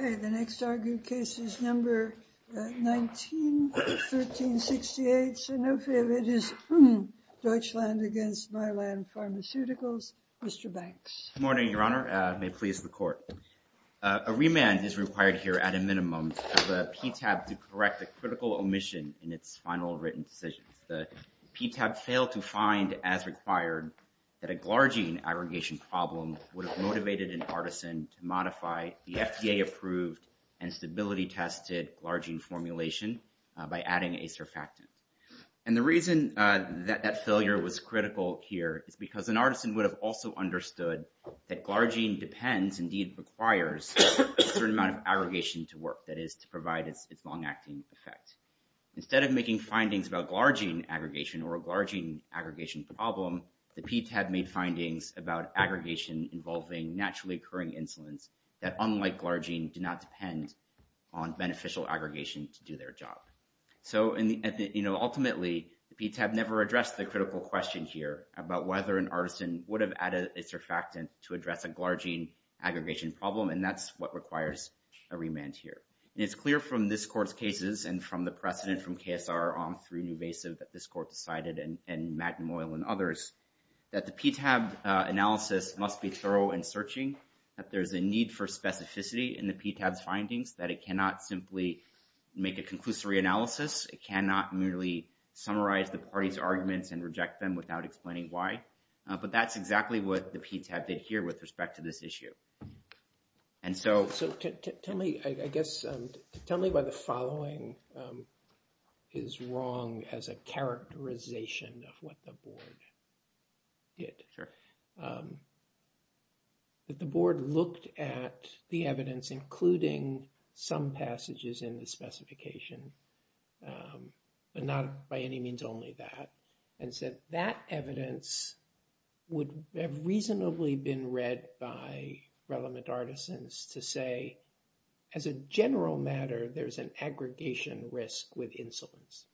A remand is required here at a minimum of a PTAB to correct a critical omission in its final written decision. The PTAB failed to find, as required, that a glargine aggregation problem would have motivated an artisan to modify the FDA-approved and stability-tested glargine formulation by adding a surfactant. And the reason that that failure was critical here is because an artisan would have also understood that glargine depends, indeed requires, a certain amount of aggregation to work, that is, to provide its long-acting effect. Instead of making findings about glargine aggregation or a glargine aggregation problem, the PTAB made findings about aggregation involving naturally-occurring insolence that, unlike glargine, do not depend on beneficial aggregation to do their job. So ultimately, the PTAB never addressed the critical question here about whether an artisan would have added a surfactant to address a glargine aggregation problem, and that's what requires a remand here. And it's clear from this Court's cases and from the precedent from KSR on through Nuvasiv that this Court decided, and Magnum Oil and others, that the PTAB analysis must be thorough in searching, that there's a need for specificity in the PTAB's findings, that it cannot simply make a conclusory analysis, it cannot merely summarize the parties' arguments and reject them without explaining why. But that's exactly what the PTAB did here with respect to this issue. And so... So tell me, I guess, tell me why the following is wrong as a characterization of what the Board did. Sure. That the Board looked at the evidence, including some passages in the specification, but not by any means only that, and said that evidence would have reasonably been read by relevant artisans to say, as a general matter, there's an aggregation risk with insolence.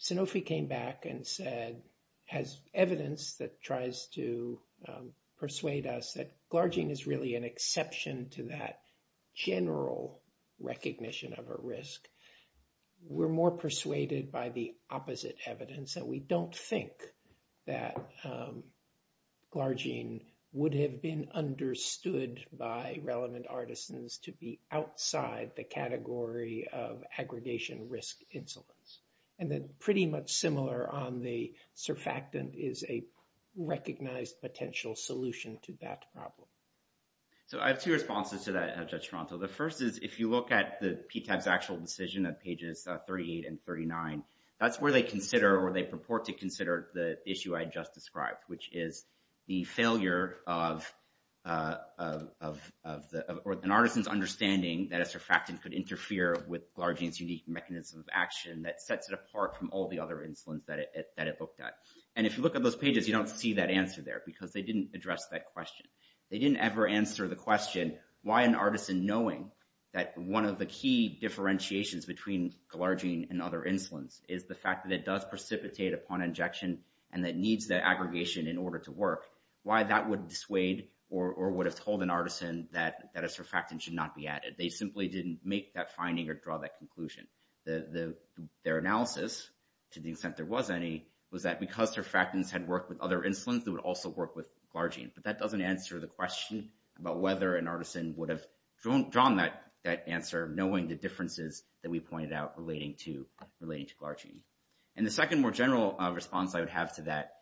Sanofi came back and said, has evidence that tries to persuade us that glargine is really an exception to that general recognition of a risk, we're more persuaded by the opposite evidence that we don't think that glargine would have been understood by relevant artisans to be outside the category of aggregation risk insolence. And then pretty much similar on the surfactant is a recognized potential solution to that problem. So I have two responses to that, Judge Toronto. The first is, if you look at the PTAB's actual decision at pages 38 and 39, that's where they consider or they purport to consider the issue I just described, which is the failure of an artisan's understanding that a surfactant could interfere with glargine's unique mechanism of action that sets it apart from all the other insolence that it looked at. And if you look at those pages, you don't see that answer there because they didn't address that question. They didn't ever answer the question, why an artisan knowing that one of the key differentiations between glargine and other insolence is the fact that it does precipitate upon injection and that needs that aggregation in order to work, why that would dissuade or would have told an artisan that a surfactant should not be added. They simply didn't make that finding or draw that conclusion. Their analysis, to the extent there was any, was that because surfactants had worked with other insolence that would also work with glargine, but that doesn't answer the question about whether an artisan would have drawn that answer knowing the differences that we pointed out relating to glargine. And the second more general response I would have to that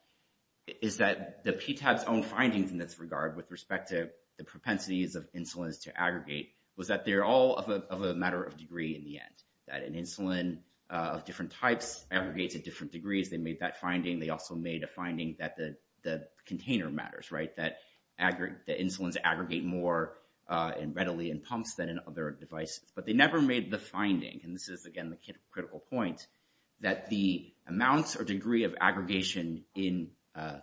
is that the PTAB's own findings in this regard with respect to the propensities of insolence to aggregate was that they're all of a matter of degree in the end, that an insulin of different types aggregates at different degrees. They made that finding. They also made a finding that the container matters, right? That the insolence aggregate more readily in pumps than in other devices, but they never made the finding. And this is, again, the critical point that the amounts or degree of aggregation in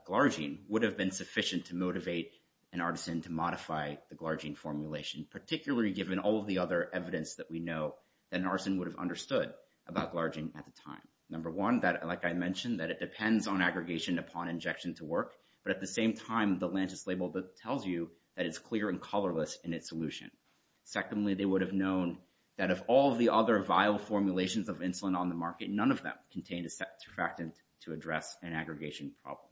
glargine would have been sufficient to motivate an artisan to modify the glargine formulation, particularly given all of the other evidence that we know that an artisan would have understood about glargine at the time. Number one, that, like I mentioned, that it depends on aggregation upon injection to work, but at the same time, the Lantus label tells you that it's clear and colorless in its solution. Secondly, they would have known that of all the other vial formulations of insulin on the market, none of them contained a surfactant to address an aggregation problem.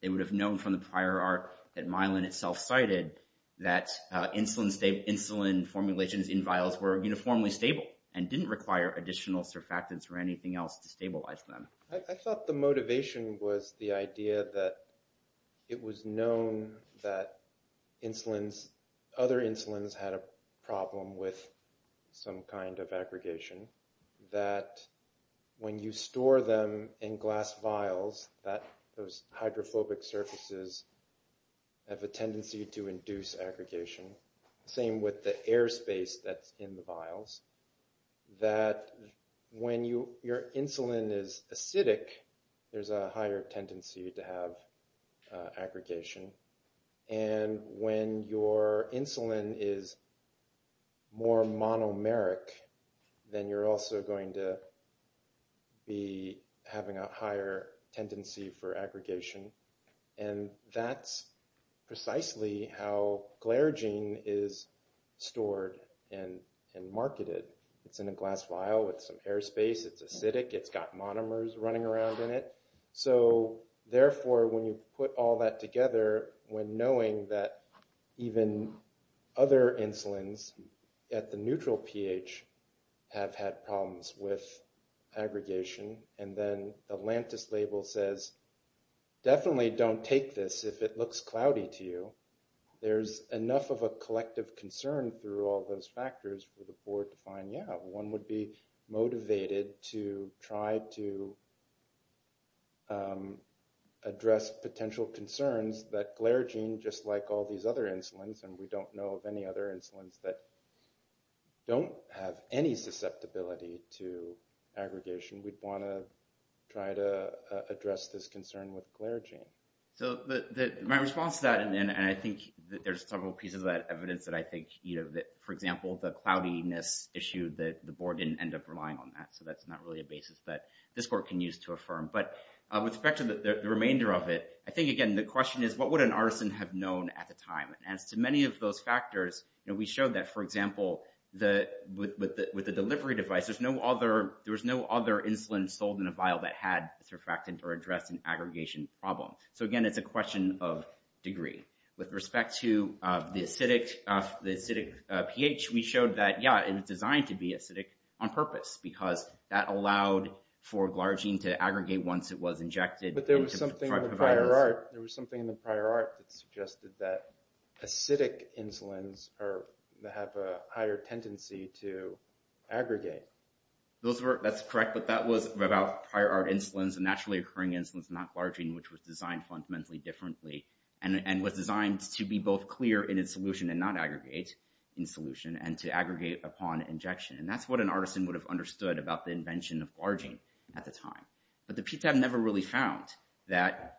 They would have known from the prior art that Mylan itself cited that insulin formulations in vials were uniformly stable and didn't require additional surfactants or anything else to stabilize them. I thought the motivation was the idea that it was known that other insulins had a problem with some kind of aggregation, that when you store them in glass vials, that those hydrophobic surfaces have a tendency to induce aggregation, same with the air space that's in the vials, that when your insulin is acidic, there's a higher tendency to have aggregation, and when your insulin is more monomeric, then you're also going to be having a higher It's in a glass vial with some air space. It's acidic. It's got monomers running around in it. So therefore, when you put all that together, when knowing that even other insulins at the neutral pH have had problems with aggregation, and then the Lantus label says, definitely don't take this if it looks cloudy to you. There's enough of a collective concern through all those factors for the board to find, yeah, one would be motivated to try to address potential concerns that glaragine, just like all these other insulins, and we don't know of any other insulins that don't have any susceptibility to aggregation, we'd want to try to address this concern with glaragine. So my response to that, and I think there's several pieces of that evidence that I think, for example, the cloudiness issue, the board didn't end up relying on that. So that's not really a basis that this court can use to affirm. But with respect to the remainder of it, I think, again, the question is, what would an artisan have known at the time? And as to many of those factors, we showed that, for example, with the delivery device, there was no other insulin sold in a vial that had surfactant or addressed an aggregation problem. So again, it's a question of degree. With respect to the acidic pH, we showed that, yeah, it was designed to be acidic on purpose, because that allowed for glaragine to aggregate once it was injected. But there was something in the prior art that suggested that acidic insulins have a higher tendency to aggregate. That's correct, but that was about prior art insulins and naturally occurring insulins, not glaragine, which was designed fundamentally differently and was designed to be both clear in its solution and not aggregate in solution, and to aggregate upon injection. And that's what an artisan would have understood about the invention of glaragine at the time. But the PTAB never really found that,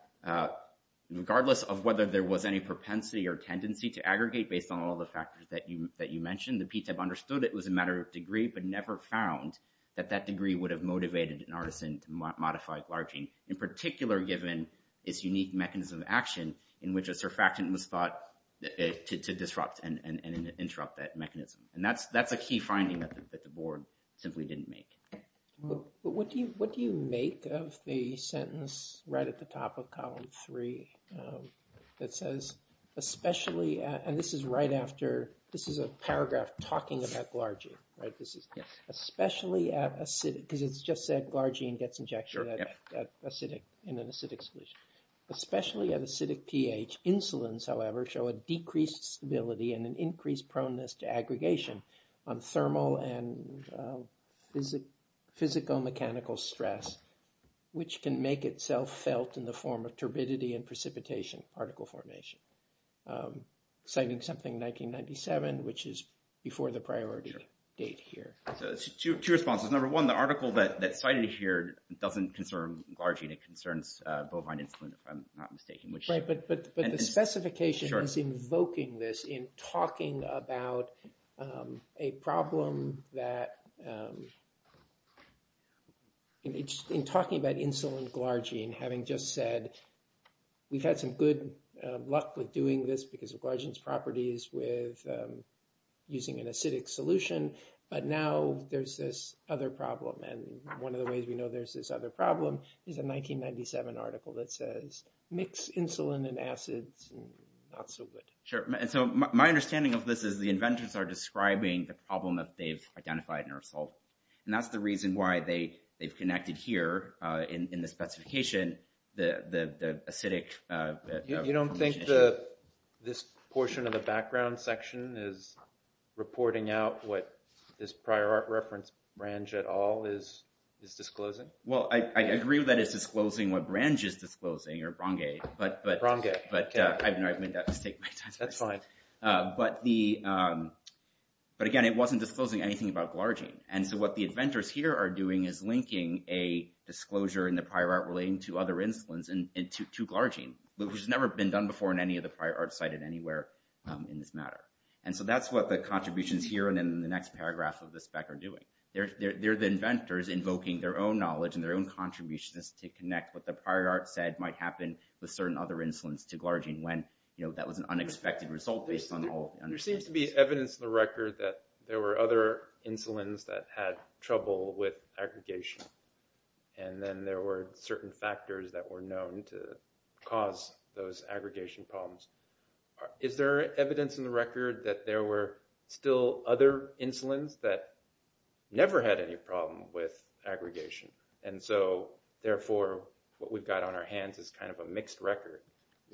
regardless of whether there was any propensity or tendency to aggregate based on all the factors that you mentioned, the PTAB understood it was a matter of degree, but never found that that degree would have motivated an artisan to modify glaragine. In particular, given its unique mechanism of action in which a surfactant was thought to disrupt and interrupt that mechanism. And that's a key finding that the board simply didn't make. But what do you make of the sentence right at the top of column three that says, especially, and this is right after, this is a paragraph talking about glaragine, right? Especially at acidic, because it's just said glaragine gets injected in an acidic solution. Especially at acidic pH, insulins, however, show a decreased stability and an increased proneness to aggregation on thermal and physical mechanical stress, which can make itself felt in the form of turbidity and precipitation particle formation. I'm citing something 1997, which is before the priority date here. So two responses. Number one, the article that's cited here doesn't concern glaragine, it concerns bovine insulin, if I'm not mistaken. Right, but the specification is invoking this in talking about a problem that, in talking about insulin glaragine, having just said, we've had some good luck with doing this because of glaragine's properties with using an acidic solution. But now there's this other problem. And one of the ways we know there's this other problem is a 1997 article that says, mix insulin and acids, not so good. Sure. And so my understanding of this is the inventors are describing the problem that they've identified and are solving. And that's the reason why they've connected here in the specification, the acidic... You don't think this portion of the background section is reporting out what this prior art reference branch at all is disclosing? Well, I agree with that it's disclosing what branch is disclosing, or brongae. Brongae, okay. But I've made that mistake many times. That's fine. But again, it wasn't disclosing anything about glaragine. So what the inventors here are doing is linking a disclosure in the prior art relating to other insulins and to glaragine, which has never been done before in any of the prior art cited anywhere in this matter. And so that's what the contributions here and in the next paragraph of the spec are doing. They're the inventors invoking their own knowledge and their own contributions to connect what the prior art said might happen with certain other insulins to glaragine when that was an unexpected result based on all... There seems to be evidence in the record that there were other insulins that had trouble with aggregation. And then there were certain factors that were known to cause those aggregation problems. Is there evidence in the record that there were still other insulins that never had any problem with aggregation? And so, therefore, what we've got on our hands is kind of a mixed record.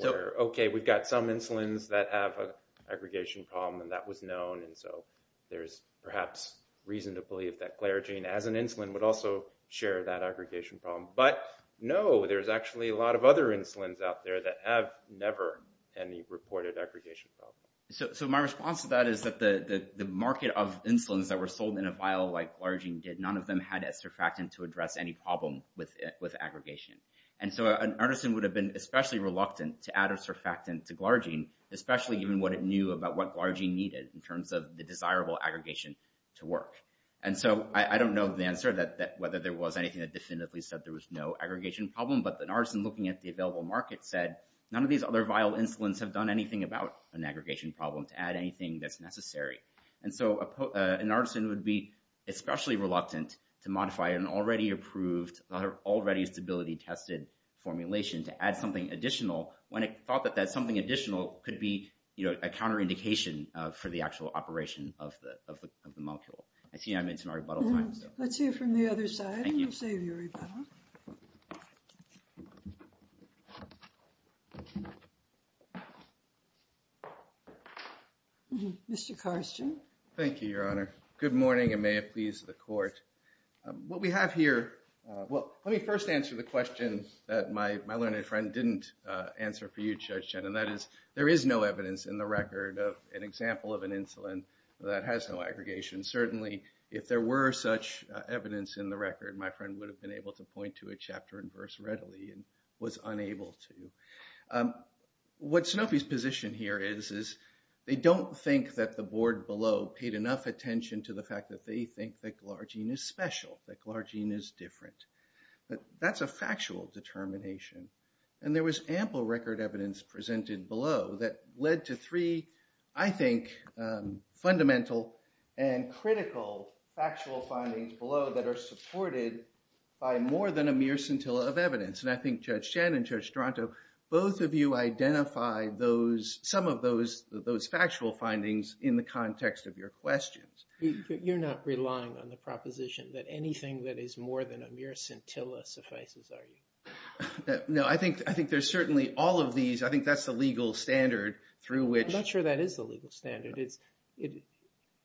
Okay, we've got some insulins that have an aggregation problem and that was known. And so there's perhaps reason to believe that glaragine as an insulin would also share that aggregation problem. But no, there's actually a lot of other insulins out there that have never had any reported aggregation problem. So my response to that is that the market of insulins that were sold in a vial like glaragine did, none of them had esterfactant to address any problem with aggregation. And so an artisan would have been especially reluctant to add esterfactant to glaragine, especially given what it knew about what glaragine needed in terms of the desirable aggregation to work. And so I don't know the answer that whether there was anything that definitively said there was no aggregation problem, but an artisan looking at the available market said, none of these other vial insulins have done anything about an aggregation problem to add anything that's necessary. And so an artisan would be especially reluctant to modify an already approved, already stability tested formulation to add something additional when it thought that that something additional could be a counterindication for the actual operation of the molecule. I see I'm into my rebuttal time. Let's hear from the other side. We'll save your rebuttal. Mr. Karsten. Thank you, Your Honor. Good morning and may it please the court. What we have here, well, let me first answer the question that my learned friend didn't answer for you, Judge Chen, and that is there is no evidence in the record of an example of an insulin that has no aggregation. Certainly, if there were such evidence in the record, my friend would have been able to point to a chapter and verse readily and was unable to. What Sanofi's position here is, is they don't think that the board below paid enough attention to the fact that they think that glargine is special, that glargine is different. But that's a factual determination. And there was ample record evidence presented below that led to three, I think, fundamental and critical factual findings below that are supported by more than a mere scintilla of evidence. And I think Judge Chen and Judge Strato, both of you identified some of those factual findings in the context of your questions. You're not relying on the proposition that anything that is more than a mere scintilla suffices, are you? No, I think there's certainly all of these. I think that's the legal standard through which... I'm not sure that is the legal standard.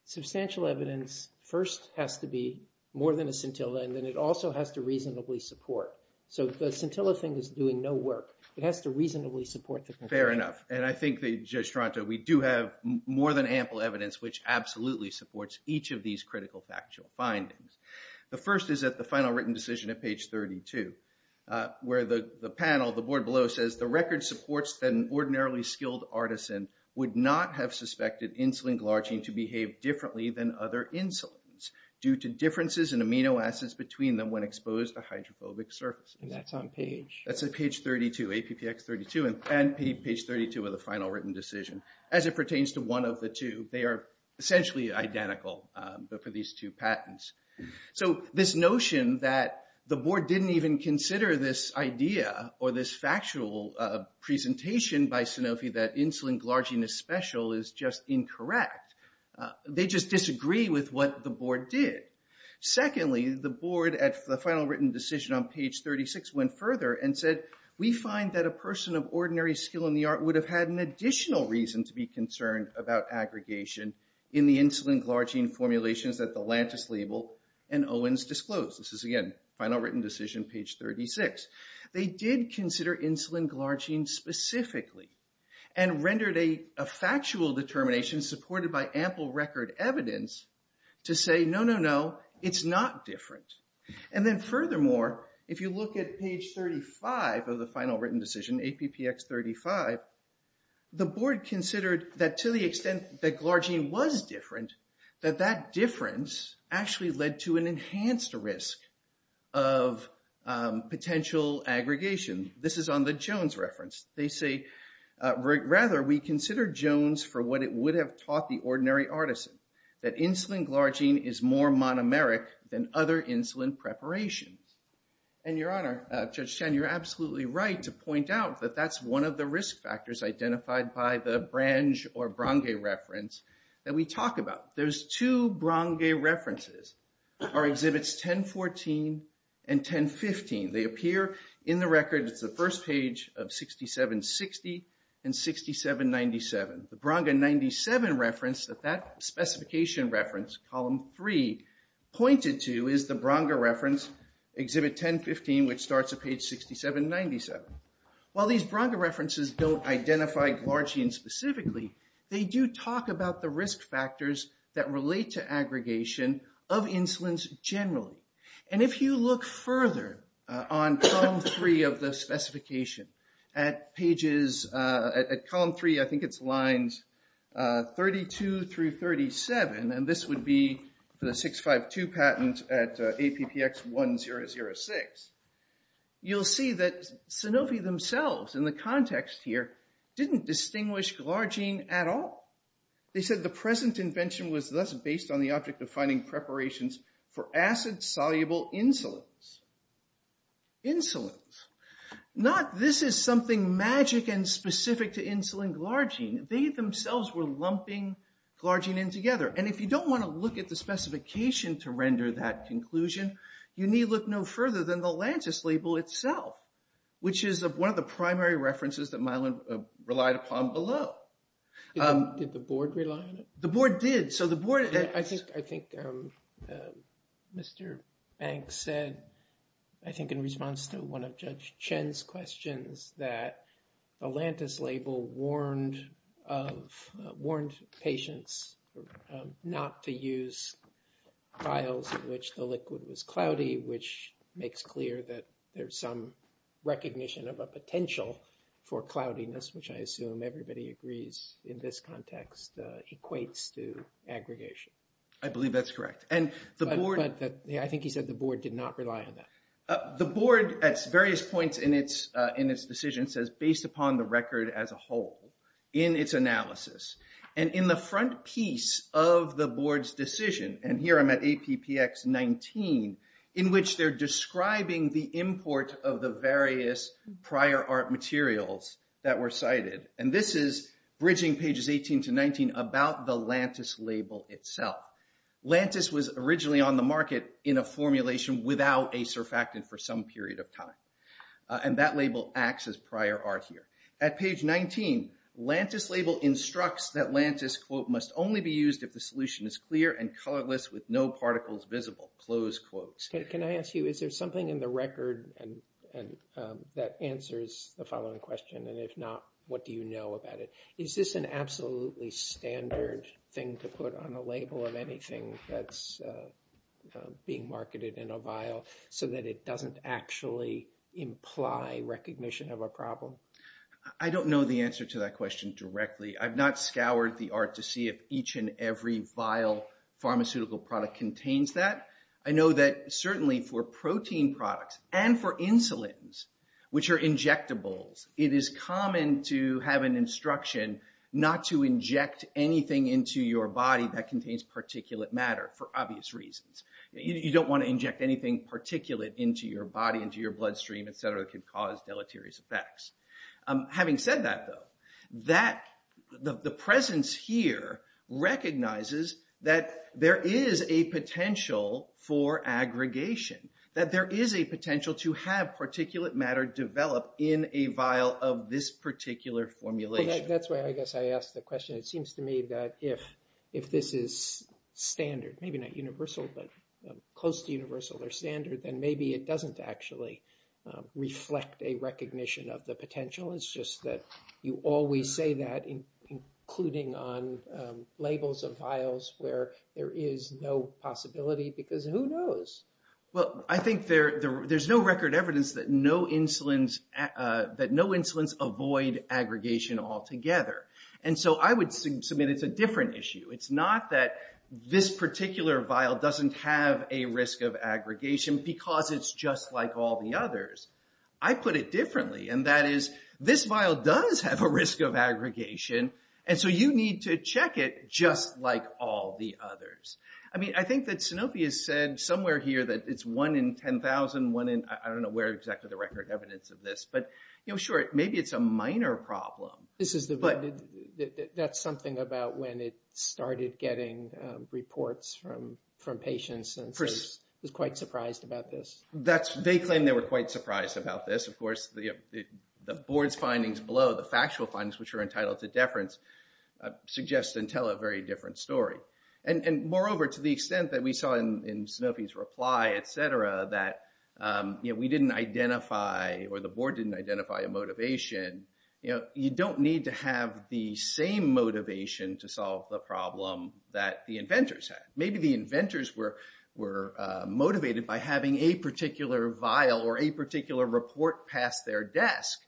Substantial evidence first has to be more than a scintilla, and then it also has to reasonably support. So the scintilla thing is doing no work. It has to reasonably support the conviction. Fair enough. And I think that, Judge Strato, we do have more than ample evidence which absolutely supports each of these critical factual findings. The first is at the final written decision at page 32, where the panel, the board below says, the record supports that an ordinarily skilled artisan would not have suspected insulin glargine to behave differently than other insulins due to differences in amino acids between them when exposed to hydrophobic surfaces. And that's on page... That's at page 32, APPX 32 and page 32 of the final written decision. As it pertains to one of the two, they are essentially identical, but for these two patents. So this notion that the board didn't even consider this idea or this factual presentation by Sanofi that insulin glargine is special is just incorrect. They just disagree with what the board did. Secondly, the board at the final written decision on page 36 went further and said, we find that a person of ordinary skill in the art would have had an additional reason to be concerned about aggregation in the insulin glargine formulations that the Lantus label and Owens disclosed. This is again, final written decision, page 36. They did consider insulin glargine specifically and rendered a factual determination supported by ample record evidence to say, no, no, no, it's not different. And then furthermore, if you look at page 35 of the final written decision, APPX 35, the board considered that to the extent that glargine was different, that that difference actually led to an enhanced risk of potential aggregation. This is on the Jones reference. They say, rather, we consider Jones for what it would have taught the ordinary artisan, that insulin glargine is more monomeric than other insulin preparations. And your honor, Judge Chen, you're absolutely right to point out that that's one of the risk factors identified by the Brange or Brange reference that we talk about. Those two Brange references are exhibits 1014 and 1015. They appear in the record. It's the first page of 6760 and 6797. The Brange 97 reference that that specification reference, column three, pointed to is the Brange reference, exhibit 1015, which starts at page 6797. While these Brange references don't identify glargine specifically, they do talk about the risk factors that relate to aggregation of insulins generally. And if you look further on column three of the specification, at pages, at column three, I think it's lines 32 through 37, and this would be for the 652 patent at APPX1006, you'll see that Sanofi themselves, in the context here, didn't distinguish glargine at all. They said, the present invention was thus based on the object of finding preparations for acid-soluble insulins. Insulins. Not, this is something magic and specific to insulin glargine. They themselves were lumping glargine in together. And if you don't want to look at the specification to render that conclusion, you need look no further than the Lantus label itself, which is one of the primary references that Mylan relied upon below. Did the board rely on it? The board did. I think Mr. Banks said, I think in response to one of Judge Chen's questions, that the Lantus label warned patients not to use vials in which the liquid was cloudy, which makes clear that there's some recognition of a potential for cloudiness, which I assume everybody agrees in this context equates to aggregation. I believe that's correct. But I think he said the board did not rely on that. The board, at various points in its decision, says, based upon the record as a whole, in its analysis. And in the front piece of the board's decision, and here I'm at APPX 19, in which they're describing the import of the various prior art materials that were cited. And this is bridging pages 18 to 19 about the Lantus label itself. Lantus was originally on the market in a formulation without a surfactant for some period of time. And that label acts as prior art here. At page 19, Lantus label instructs that Lantus, quote, must only be used if the solution is clear and colorless with no particles visible, close quotes. Can I ask you, is there something in the record that answers the following question? And if not, what do you know about it? Is this an absolutely standard thing to put on a label of anything that's being marketed in a vial so that it doesn't actually imply recognition of a problem? I don't know the answer to that question directly. I've not scoured the art to see if each and every vial pharmaceutical product contains that. I know that certainly for protein products and for insulins, which are injectables, it is common to have an instruction not to inject anything into your body that contains particulate matter for obvious reasons. You don't want to inject anything particulate into your body, into your bloodstream, et cetera, that could cause deleterious effects. Having said that, though, the presence here recognizes that there is a potential for aggregation, that there is a potential to have particulate matter develop in a vial of this particular formulation. That's why I guess I asked the question. It seems to me that if this is standard, maybe not universal, but close to universal or standard, then maybe it doesn't actually reflect a recognition of the potential. It's just that you always say that, including on labels of vials where there is no possibility because who knows? Well, I think there's no record evidence that no insulins avoid aggregation altogether. And so I would submit it's a different issue. It's not that this particular vial doesn't have a risk of aggregation because it's just like all the others. I put it differently, and that is this vial does have a risk of aggregation, and so you need to check it just like all the others. I mean, I think that Sanofi has said somewhere here that it's one in 10,000, one in I don't know where exactly the record evidence of this. But sure, maybe it's a minor problem. But that's something about when it started getting reports from patients and was quite surprised about this. They claim they were quite surprised about this. Of course, the board's findings below, the factual findings which are entitled to deference, suggest and tell a very different story. And moreover, to the extent that we saw in Sanofi's reply, et cetera, that we didn't identify or the board didn't identify a motivation, you don't need to have the same motivation to solve the problem that the inventors had. Maybe the inventors were motivated by having a particular vial or a particular report past their desk.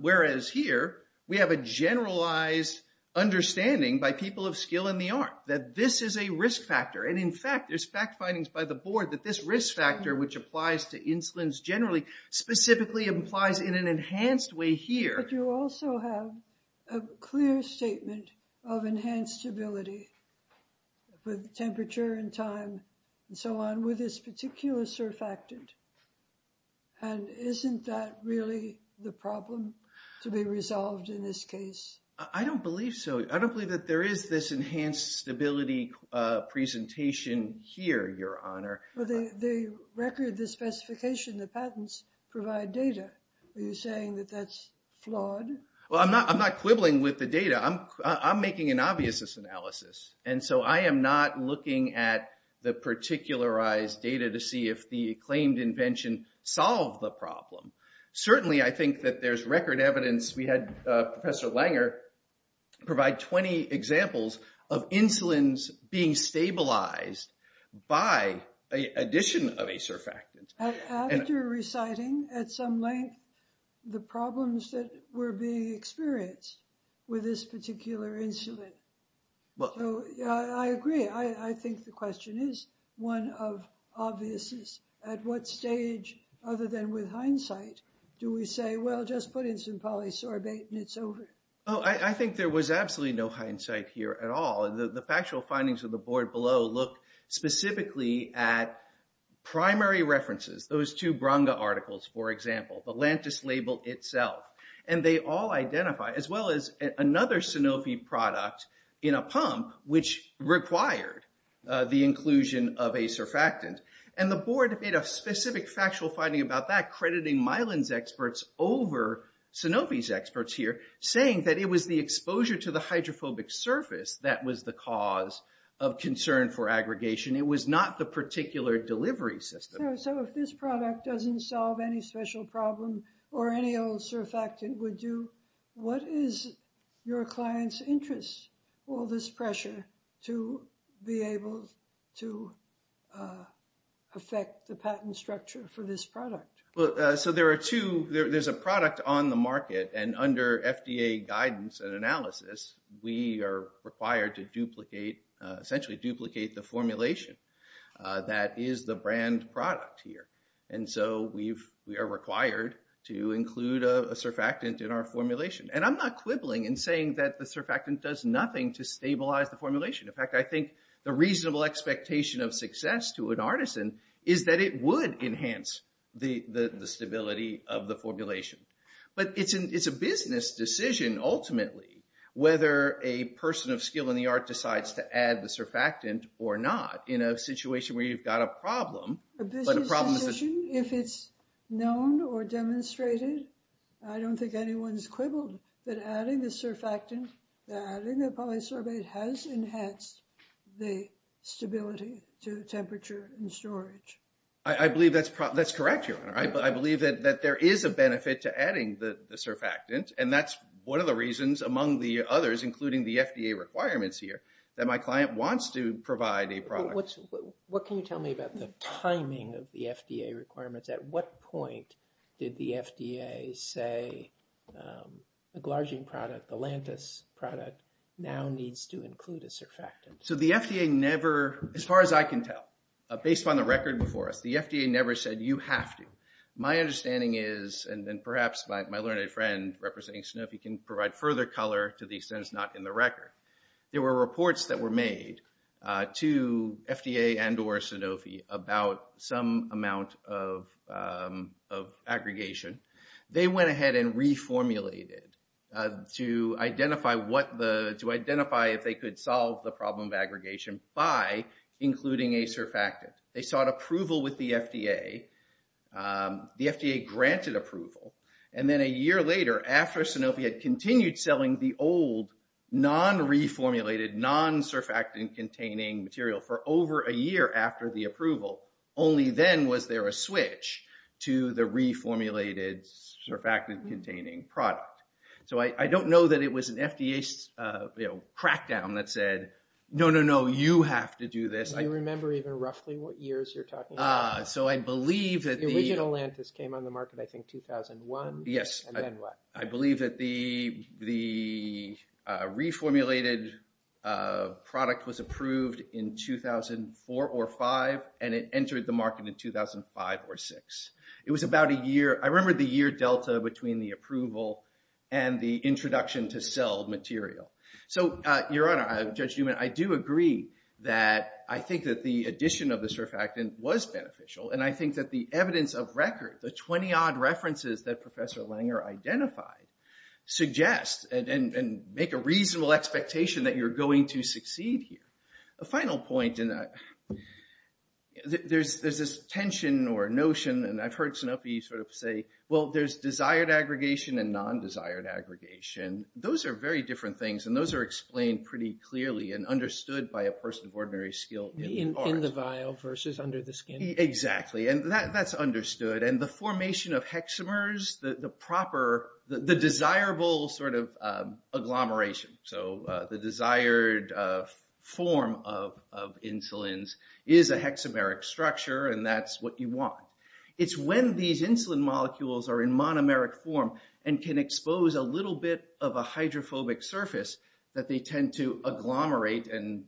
Whereas here, we have a generalized understanding by people of skill in the art that this is a risk factor. And in fact, there's fact findings by the board that this risk factor, which applies to insulins generally, specifically implies in an enhanced way here. But you also have a clear statement of enhanced stability with temperature and time and so on with this particular surfactant. And isn't that really the problem to be resolved in this case? I don't believe so. I don't believe that there is this enhanced stability presentation here, Your Honor. Well, the record, the specification, the patents provide data. Are you saying that that's flawed? Well, I'm not quibbling with the data. I'm making an obvious analysis. And so I am not looking at the particularized data to see if the claimed invention solved the problem. Certainly, I think that there's record evidence. We had Professor Langer provide 20 examples of insulins being stabilized by an addition of a surfactant. I think you're reciting at some length the problems that were being experienced with this particular insulin. Well, I agree. I think the question is one of obviousness. At what stage, other than with hindsight, do we say, well, just put in some polysorbate and it's over? Oh, I think there was absolutely no hindsight here at all. And the factual findings of the board below look specifically at primary references. Those two Branga articles, for example, the Lantus label itself. And they all identify, as well as another Sanofi product in a pump, which required the inclusion of a surfactant. And the board made a specific factual finding about that, crediting Mylan's experts over Sanofi's experts here, saying that it was the exposure to the hydrophobic surface that was the cause of concern for aggregation. It was not the particular delivery system. So if this product doesn't solve any special problem, or any old surfactant would do, what is your client's interest? All this pressure to be able to affect the patent structure for this product. So there are two. There's a product on the market. And under FDA guidance and analysis, we are required to essentially duplicate the formulation that is the brand product here. And so we are required to include a surfactant in our formulation. And I'm not quibbling in saying that the surfactant does nothing to stabilize the formulation. In fact, I think the reasonable expectation of success to an artisan is that it would enhance the stability of the formulation. But it's a business decision, ultimately, whether a person of skill in the art decides to add the surfactant or not. In a situation where you've got a problem. A business decision, if it's known or demonstrated, I don't think anyone's quibbled that adding the surfactant, adding the polysorbate has enhanced the stability to the temperature and storage. I believe that's correct, Your Honor. I believe that there is a benefit to adding the surfactant. And that's one of the reasons, among the others, including the FDA requirements here, that my client wants to provide a product. What can you tell me about the timing of the FDA requirements? At what point did the FDA say a Glargine product, the Lantus product, now needs to include a surfactant? So the FDA never, as far as I can tell, based on the record before us, the FDA never said you have to. My understanding is, and perhaps my learned friend representing Sanofi can provide further color to the extent it's not in the record. There were reports that were made to FDA and or Sanofi about some amount of aggregation. They went ahead and reformulated to identify if they could solve the problem of aggregation by including a surfactant. They sought approval with the FDA. The FDA granted approval. And then a year later, after Sanofi had continued selling the old non-reformulated, non-surfactant containing material for over a year after the approval, only then was there a switch to the reformulated surfactant containing product. So I don't know that it was an FDA crackdown that said, no, no, no, you have to do this. Do you remember even roughly what years you're talking about? So I believe that the— The original Lantus came on the market, I think, 2001. Yes. And then what? I believe that the reformulated product was approved in 2004 or 2005, and it entered the market in 2005 or 2006. It was about a year—I remember the year delta between the approval and the introduction to sell material. So, Your Honor, Judge Newman, I do agree that I think that the addition of the surfactant was beneficial. And I think that the evidence of record, the 20-odd references that Professor Langer identified, suggest and make a reasonable expectation that you're going to succeed here. A final point in that, there's this tension or notion, and I've heard Sanofi sort of say, well, there's desired aggregation and non-desired aggregation. Those are very different things, and those are explained pretty clearly and understood by a person of ordinary skill in art. In the vial versus under the skin. Exactly. And that's understood. And the formation of hexamers, the proper—the desirable sort of agglomeration, so the desired form of insulins is a hexameric structure, and that's what you want. It's when these insulin molecules are in monomeric form and can expose a little bit of a hydrophobic surface that they tend to agglomerate and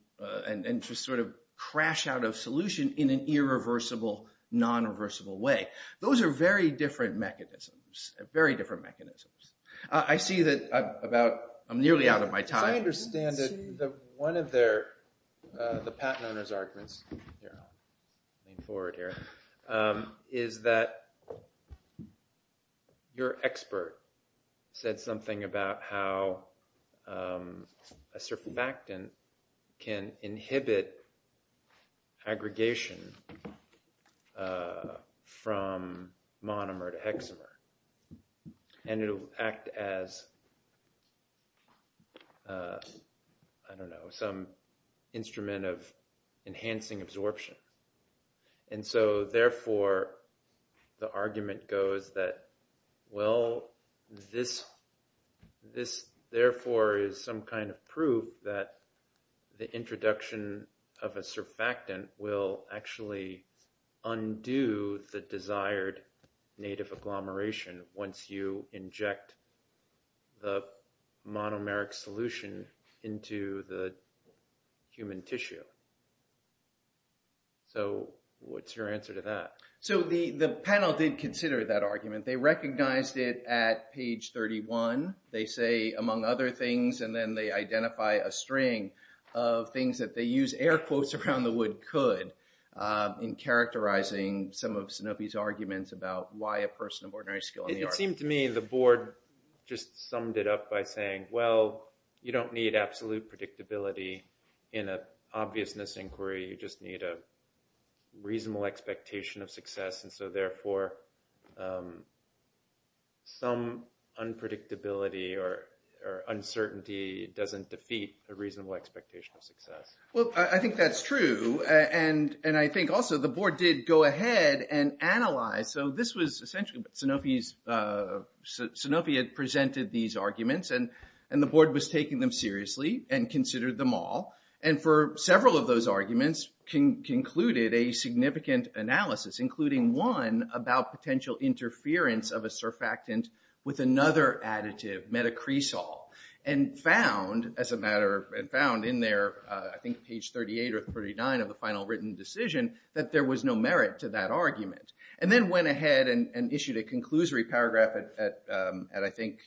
just sort of crash out of solution in an irreversible, non-reversible way. Those are very different mechanisms. Very different mechanisms. I see that I'm nearly out of my time. I understand that one of their—the patent owner's arguments—I'll lean forward here—is that your expert said something about how a surfactant can inhibit aggregation from monomer to hexamer, and it'll act as, I don't know, some instrument of enhancing absorption. And so, therefore, the argument goes that, well, this therefore is some kind of proof that the introduction of a surfactant will actually undo the desired native agglomeration once you inject the monomeric solution into the human tissue. So, what's your answer to that? So, the panel did consider that argument. They recognized it at page 31. They say, among other things, and then they identify a string of things that they use air quotes around the wood could in characterizing some of Sanofi's arguments about why a person of ordinary skill in the arts— It seemed to me the board just summed it up by saying, well, you don't need absolute predictability in an obviousness inquiry. You just need a reasonable expectation of success. And so, therefore, some unpredictability or uncertainty doesn't defeat a reasonable expectation of success. Well, I think that's true, and I think also the board did go ahead and analyze. So, this was essentially Sanofi had presented these arguments, and the board was taking them seriously and considered them all. And for several of those arguments, concluded a significant analysis, including one about potential interference of a surfactant with another additive, metacresol, and found, as a matter of—and found in there, I think, page 38 or 39 of the final written decision that there was no merit to that argument. And then went ahead and issued a conclusory paragraph at, I think,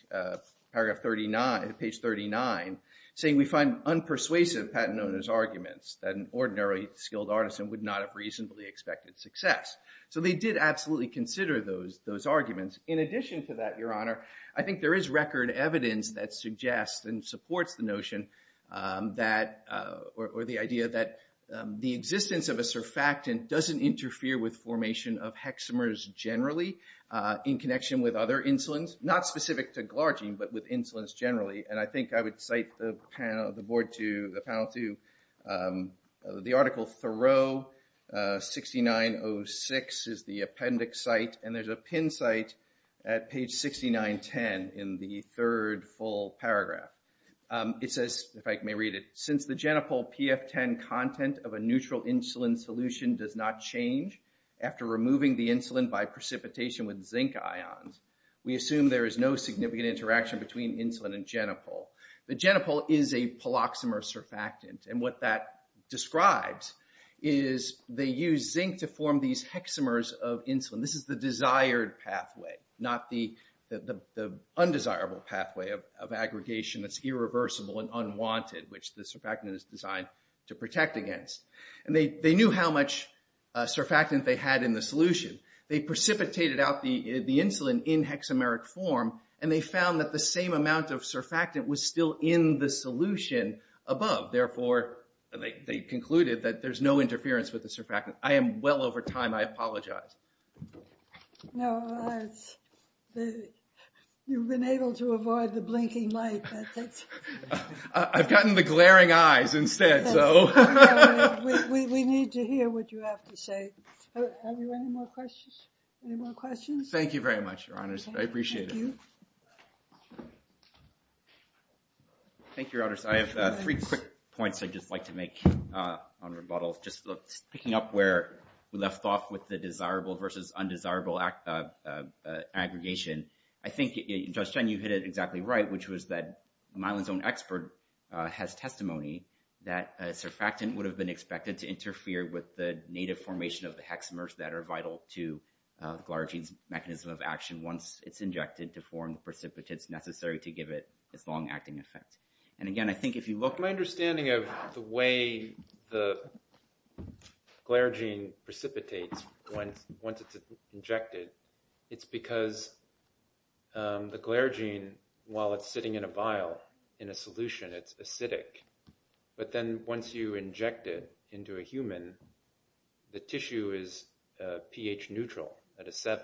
paragraph 39—page 39—saying, we find unpersuasive patent owner's arguments that an ordinary skilled artisan would not have reasonably expected success. So, they did absolutely consider those arguments. In addition to that, Your Honor, I think there is record evidence that suggests and supports the notion that—or the idea that the existence of a surfactant doesn't interfere with formation of hexamers generally in connection with other insulins, not specific to glargine, but with insulins generally. And I think I would cite the board to—the panel to—the article Thoreau 6906 is the appendix site, and there's a pin site at page 6910 in the third full paragraph. It says, if I may read it, since the genopole PF10 content of a neutral insulin solution does not change after removing the insulin by precipitation with zinc ions, we assume there is no significant interaction between insulin and genopole. The genopole is a poloxamer surfactant, and what that describes is they use zinc to form these hexamers of insulin. This is the desired pathway, not the undesirable pathway of aggregation that's irreversible and unwanted, which the surfactant is designed to protect against. And they knew how much surfactant they had in the solution. They precipitated out the insulin in hexameric form, and they found that the same amount of surfactant was still in the solution above. Therefore, they concluded that there's no interference with the surfactant. I am well over time. I apologize. No. You've been able to avoid the blinking light. I've gotten the glaring eyes instead, so… We need to hear what you have to say. Have you any more questions? Any more questions? Thank you very much, Your Honors. I appreciate it. Thank you, Your Honors. I have three quick points I'd just like to make on rebuttal, just picking up where we left off with the desirable versus undesirable aggregation. I think, Judge Chen, you hit it exactly right, which was that Mylan's own expert has testimony that surfactant would have been expected to interfere with the native formation of the hexamers that are vital to the glaragene's mechanism of action once it's injected to form the precipitates necessary to give it its long-acting effect. And again, I think if you look… My understanding of the way the glaragene precipitates once it's injected, it's because the glaragene, while it's sitting in a vial in a solution, it's acidic. But then once you inject it into a human, the tissue is pH-neutral at a 7.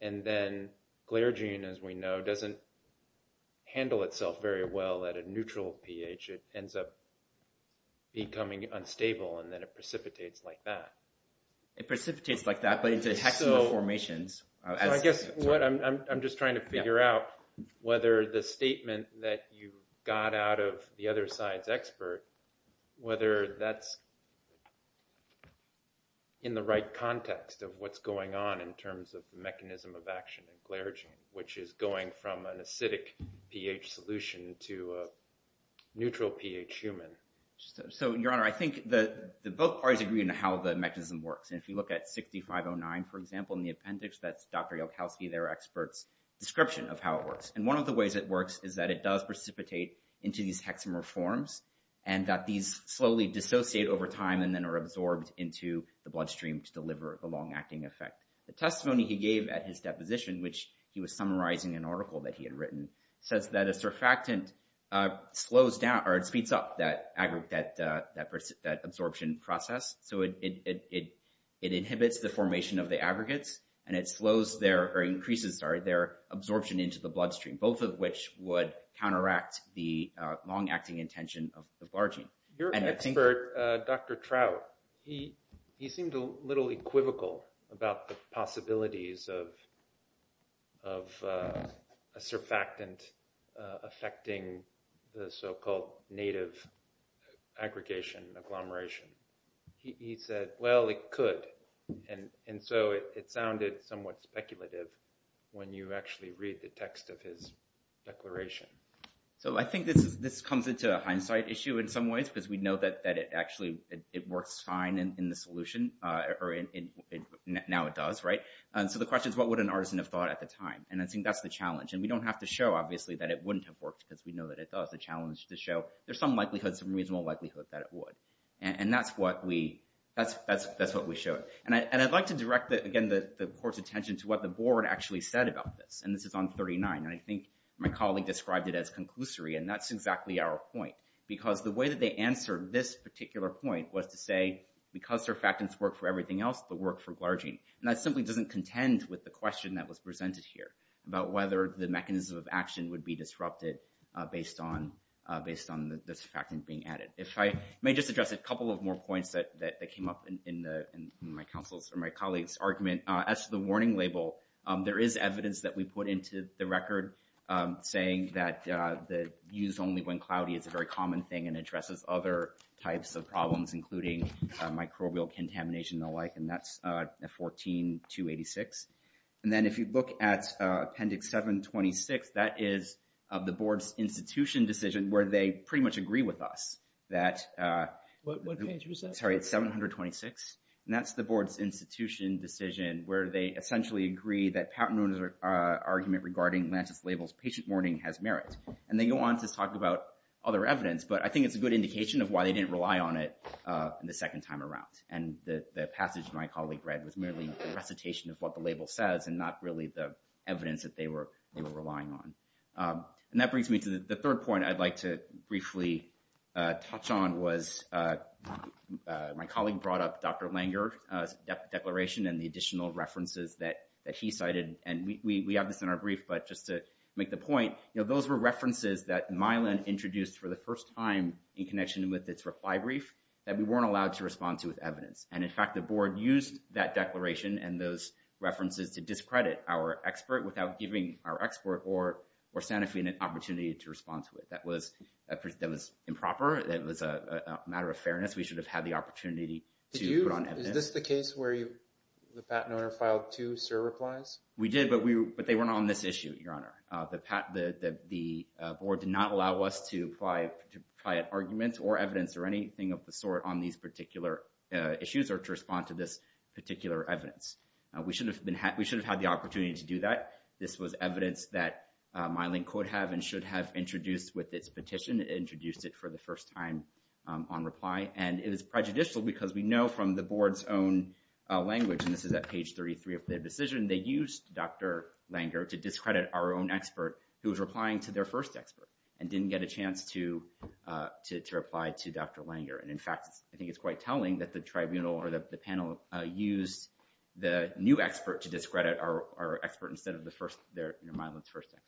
And then glaragene, as we know, doesn't handle itself very well at a neutral pH. It ends up becoming unstable, and then it precipitates like that. It precipitates like that, but it's hexamer formations. So, I guess what I'm just trying to figure out, whether the statement that you got out of the other science expert, whether that's in the right context of what's going on in terms of the mechanism of action of glaragene, which is going from an acidic pH solution to a neutral pH human. So, Your Honor, I think that both parties agree on how the mechanism works. And if you look at 6509, for example, in the appendix, that's Dr. Yalkowski, their expert's description of how it works. One of the ways it works is that it does precipitate into these hexamer forms, and that these slowly dissociate over time and then are absorbed into the bloodstream to deliver a long-acting effect. The testimony he gave at his deposition, which he was summarizing an article that he had written, says that a surfactant speeds up that absorption process. So, it inhibits the formation of the aggregates, and it increases their absorption into the bloodstream, both of which would counteract the long-acting intention of the glaragene. Your expert, Dr. Trout, he seemed a little equivocal about the possibilities of a surfactant affecting the so-called native aggregation, agglomeration. He said, well, it could. And so, it sounded somewhat speculative when you actually read the text of his declaration. So, I think this comes into hindsight issue in some ways, because we know that it actually, it works fine in the solution, or now it does, right? So, the question is, what would an artisan have thought at the time? And I think that's the challenge. And we don't have to show, obviously, that it wouldn't have worked, because we know that it does. The challenge is to show there's some likelihood, some reasonable likelihood that it would. And that's what we showed. And I'd like to direct, again, the court's attention to what the board actually said about this. And this is on 39. And I think my colleague described it as conclusory. And that's exactly our point. Because the way that they answered this particular point was to say, because surfactants work for everything else, they work for glaragene. And that simply doesn't contend with the question that was presented here, about whether the mechanism of action would be disrupted based on the surfactant being added. If I may just address a couple of more points that came up in my colleague's argument. As to the warning label, there is evidence that we put into the record saying that the use only when cloudy is a very common thing and addresses other types of problems, including microbial contamination and the like. And that's 14-286. And then if you look at appendix 726, that is the board's institution decision where they pretty much agree with us. What page was that? Sorry, it's 726. And that's the board's institution decision where they essentially agree that Pattenruder's argument regarding Lantus Label's patient warning has merit. And they go on to talk about other evidence. But I think it's a good indication of why they didn't rely on it the second time around. And the passage my colleague read was merely a recitation of what the label says and not really the evidence that they were relying on. And that brings me to the third point I'd like to briefly touch on was my colleague brought up Dr. Langer's declaration and the additional references that he cited. And we have this in our brief. But just to make the point, those were references that Mylan introduced for the first time in connection with its reply brief that we weren't allowed to respond to with evidence. And in fact, the board used that declaration and those references to discredit our expert without giving our expert or Santa Fe an opportunity to respond to it. That was improper. That was a matter of fairness. We should have had the opportunity to put on evidence. Is this the case where the patent owner filed two SIR replies? We did, but they weren't on this issue, Your Honor. The board did not allow us to apply an argument or evidence or anything of the sort on these particular issues or to respond to this particular evidence. We should have had the opportunity to do that. This was evidence that Mylan could have and should have introduced with its petition. It introduced it for the first time on reply. And it was prejudicial because we know from the board's own language, and this is at page 33 of the decision, they used Dr. Langer to discredit our own expert who was replying to their first expert and didn't get a chance to reply to Dr. Langer. And in fact, I think it's quite telling that the tribunal or the panel used the new expert to discredit our expert instead of Mylan's first expert.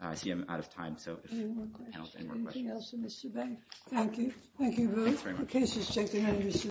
I see I'm out of time. So, if the panel has any more questions. Anything else, Mr. Banks? Thank you. Thank you both. The case is taken under surveillance.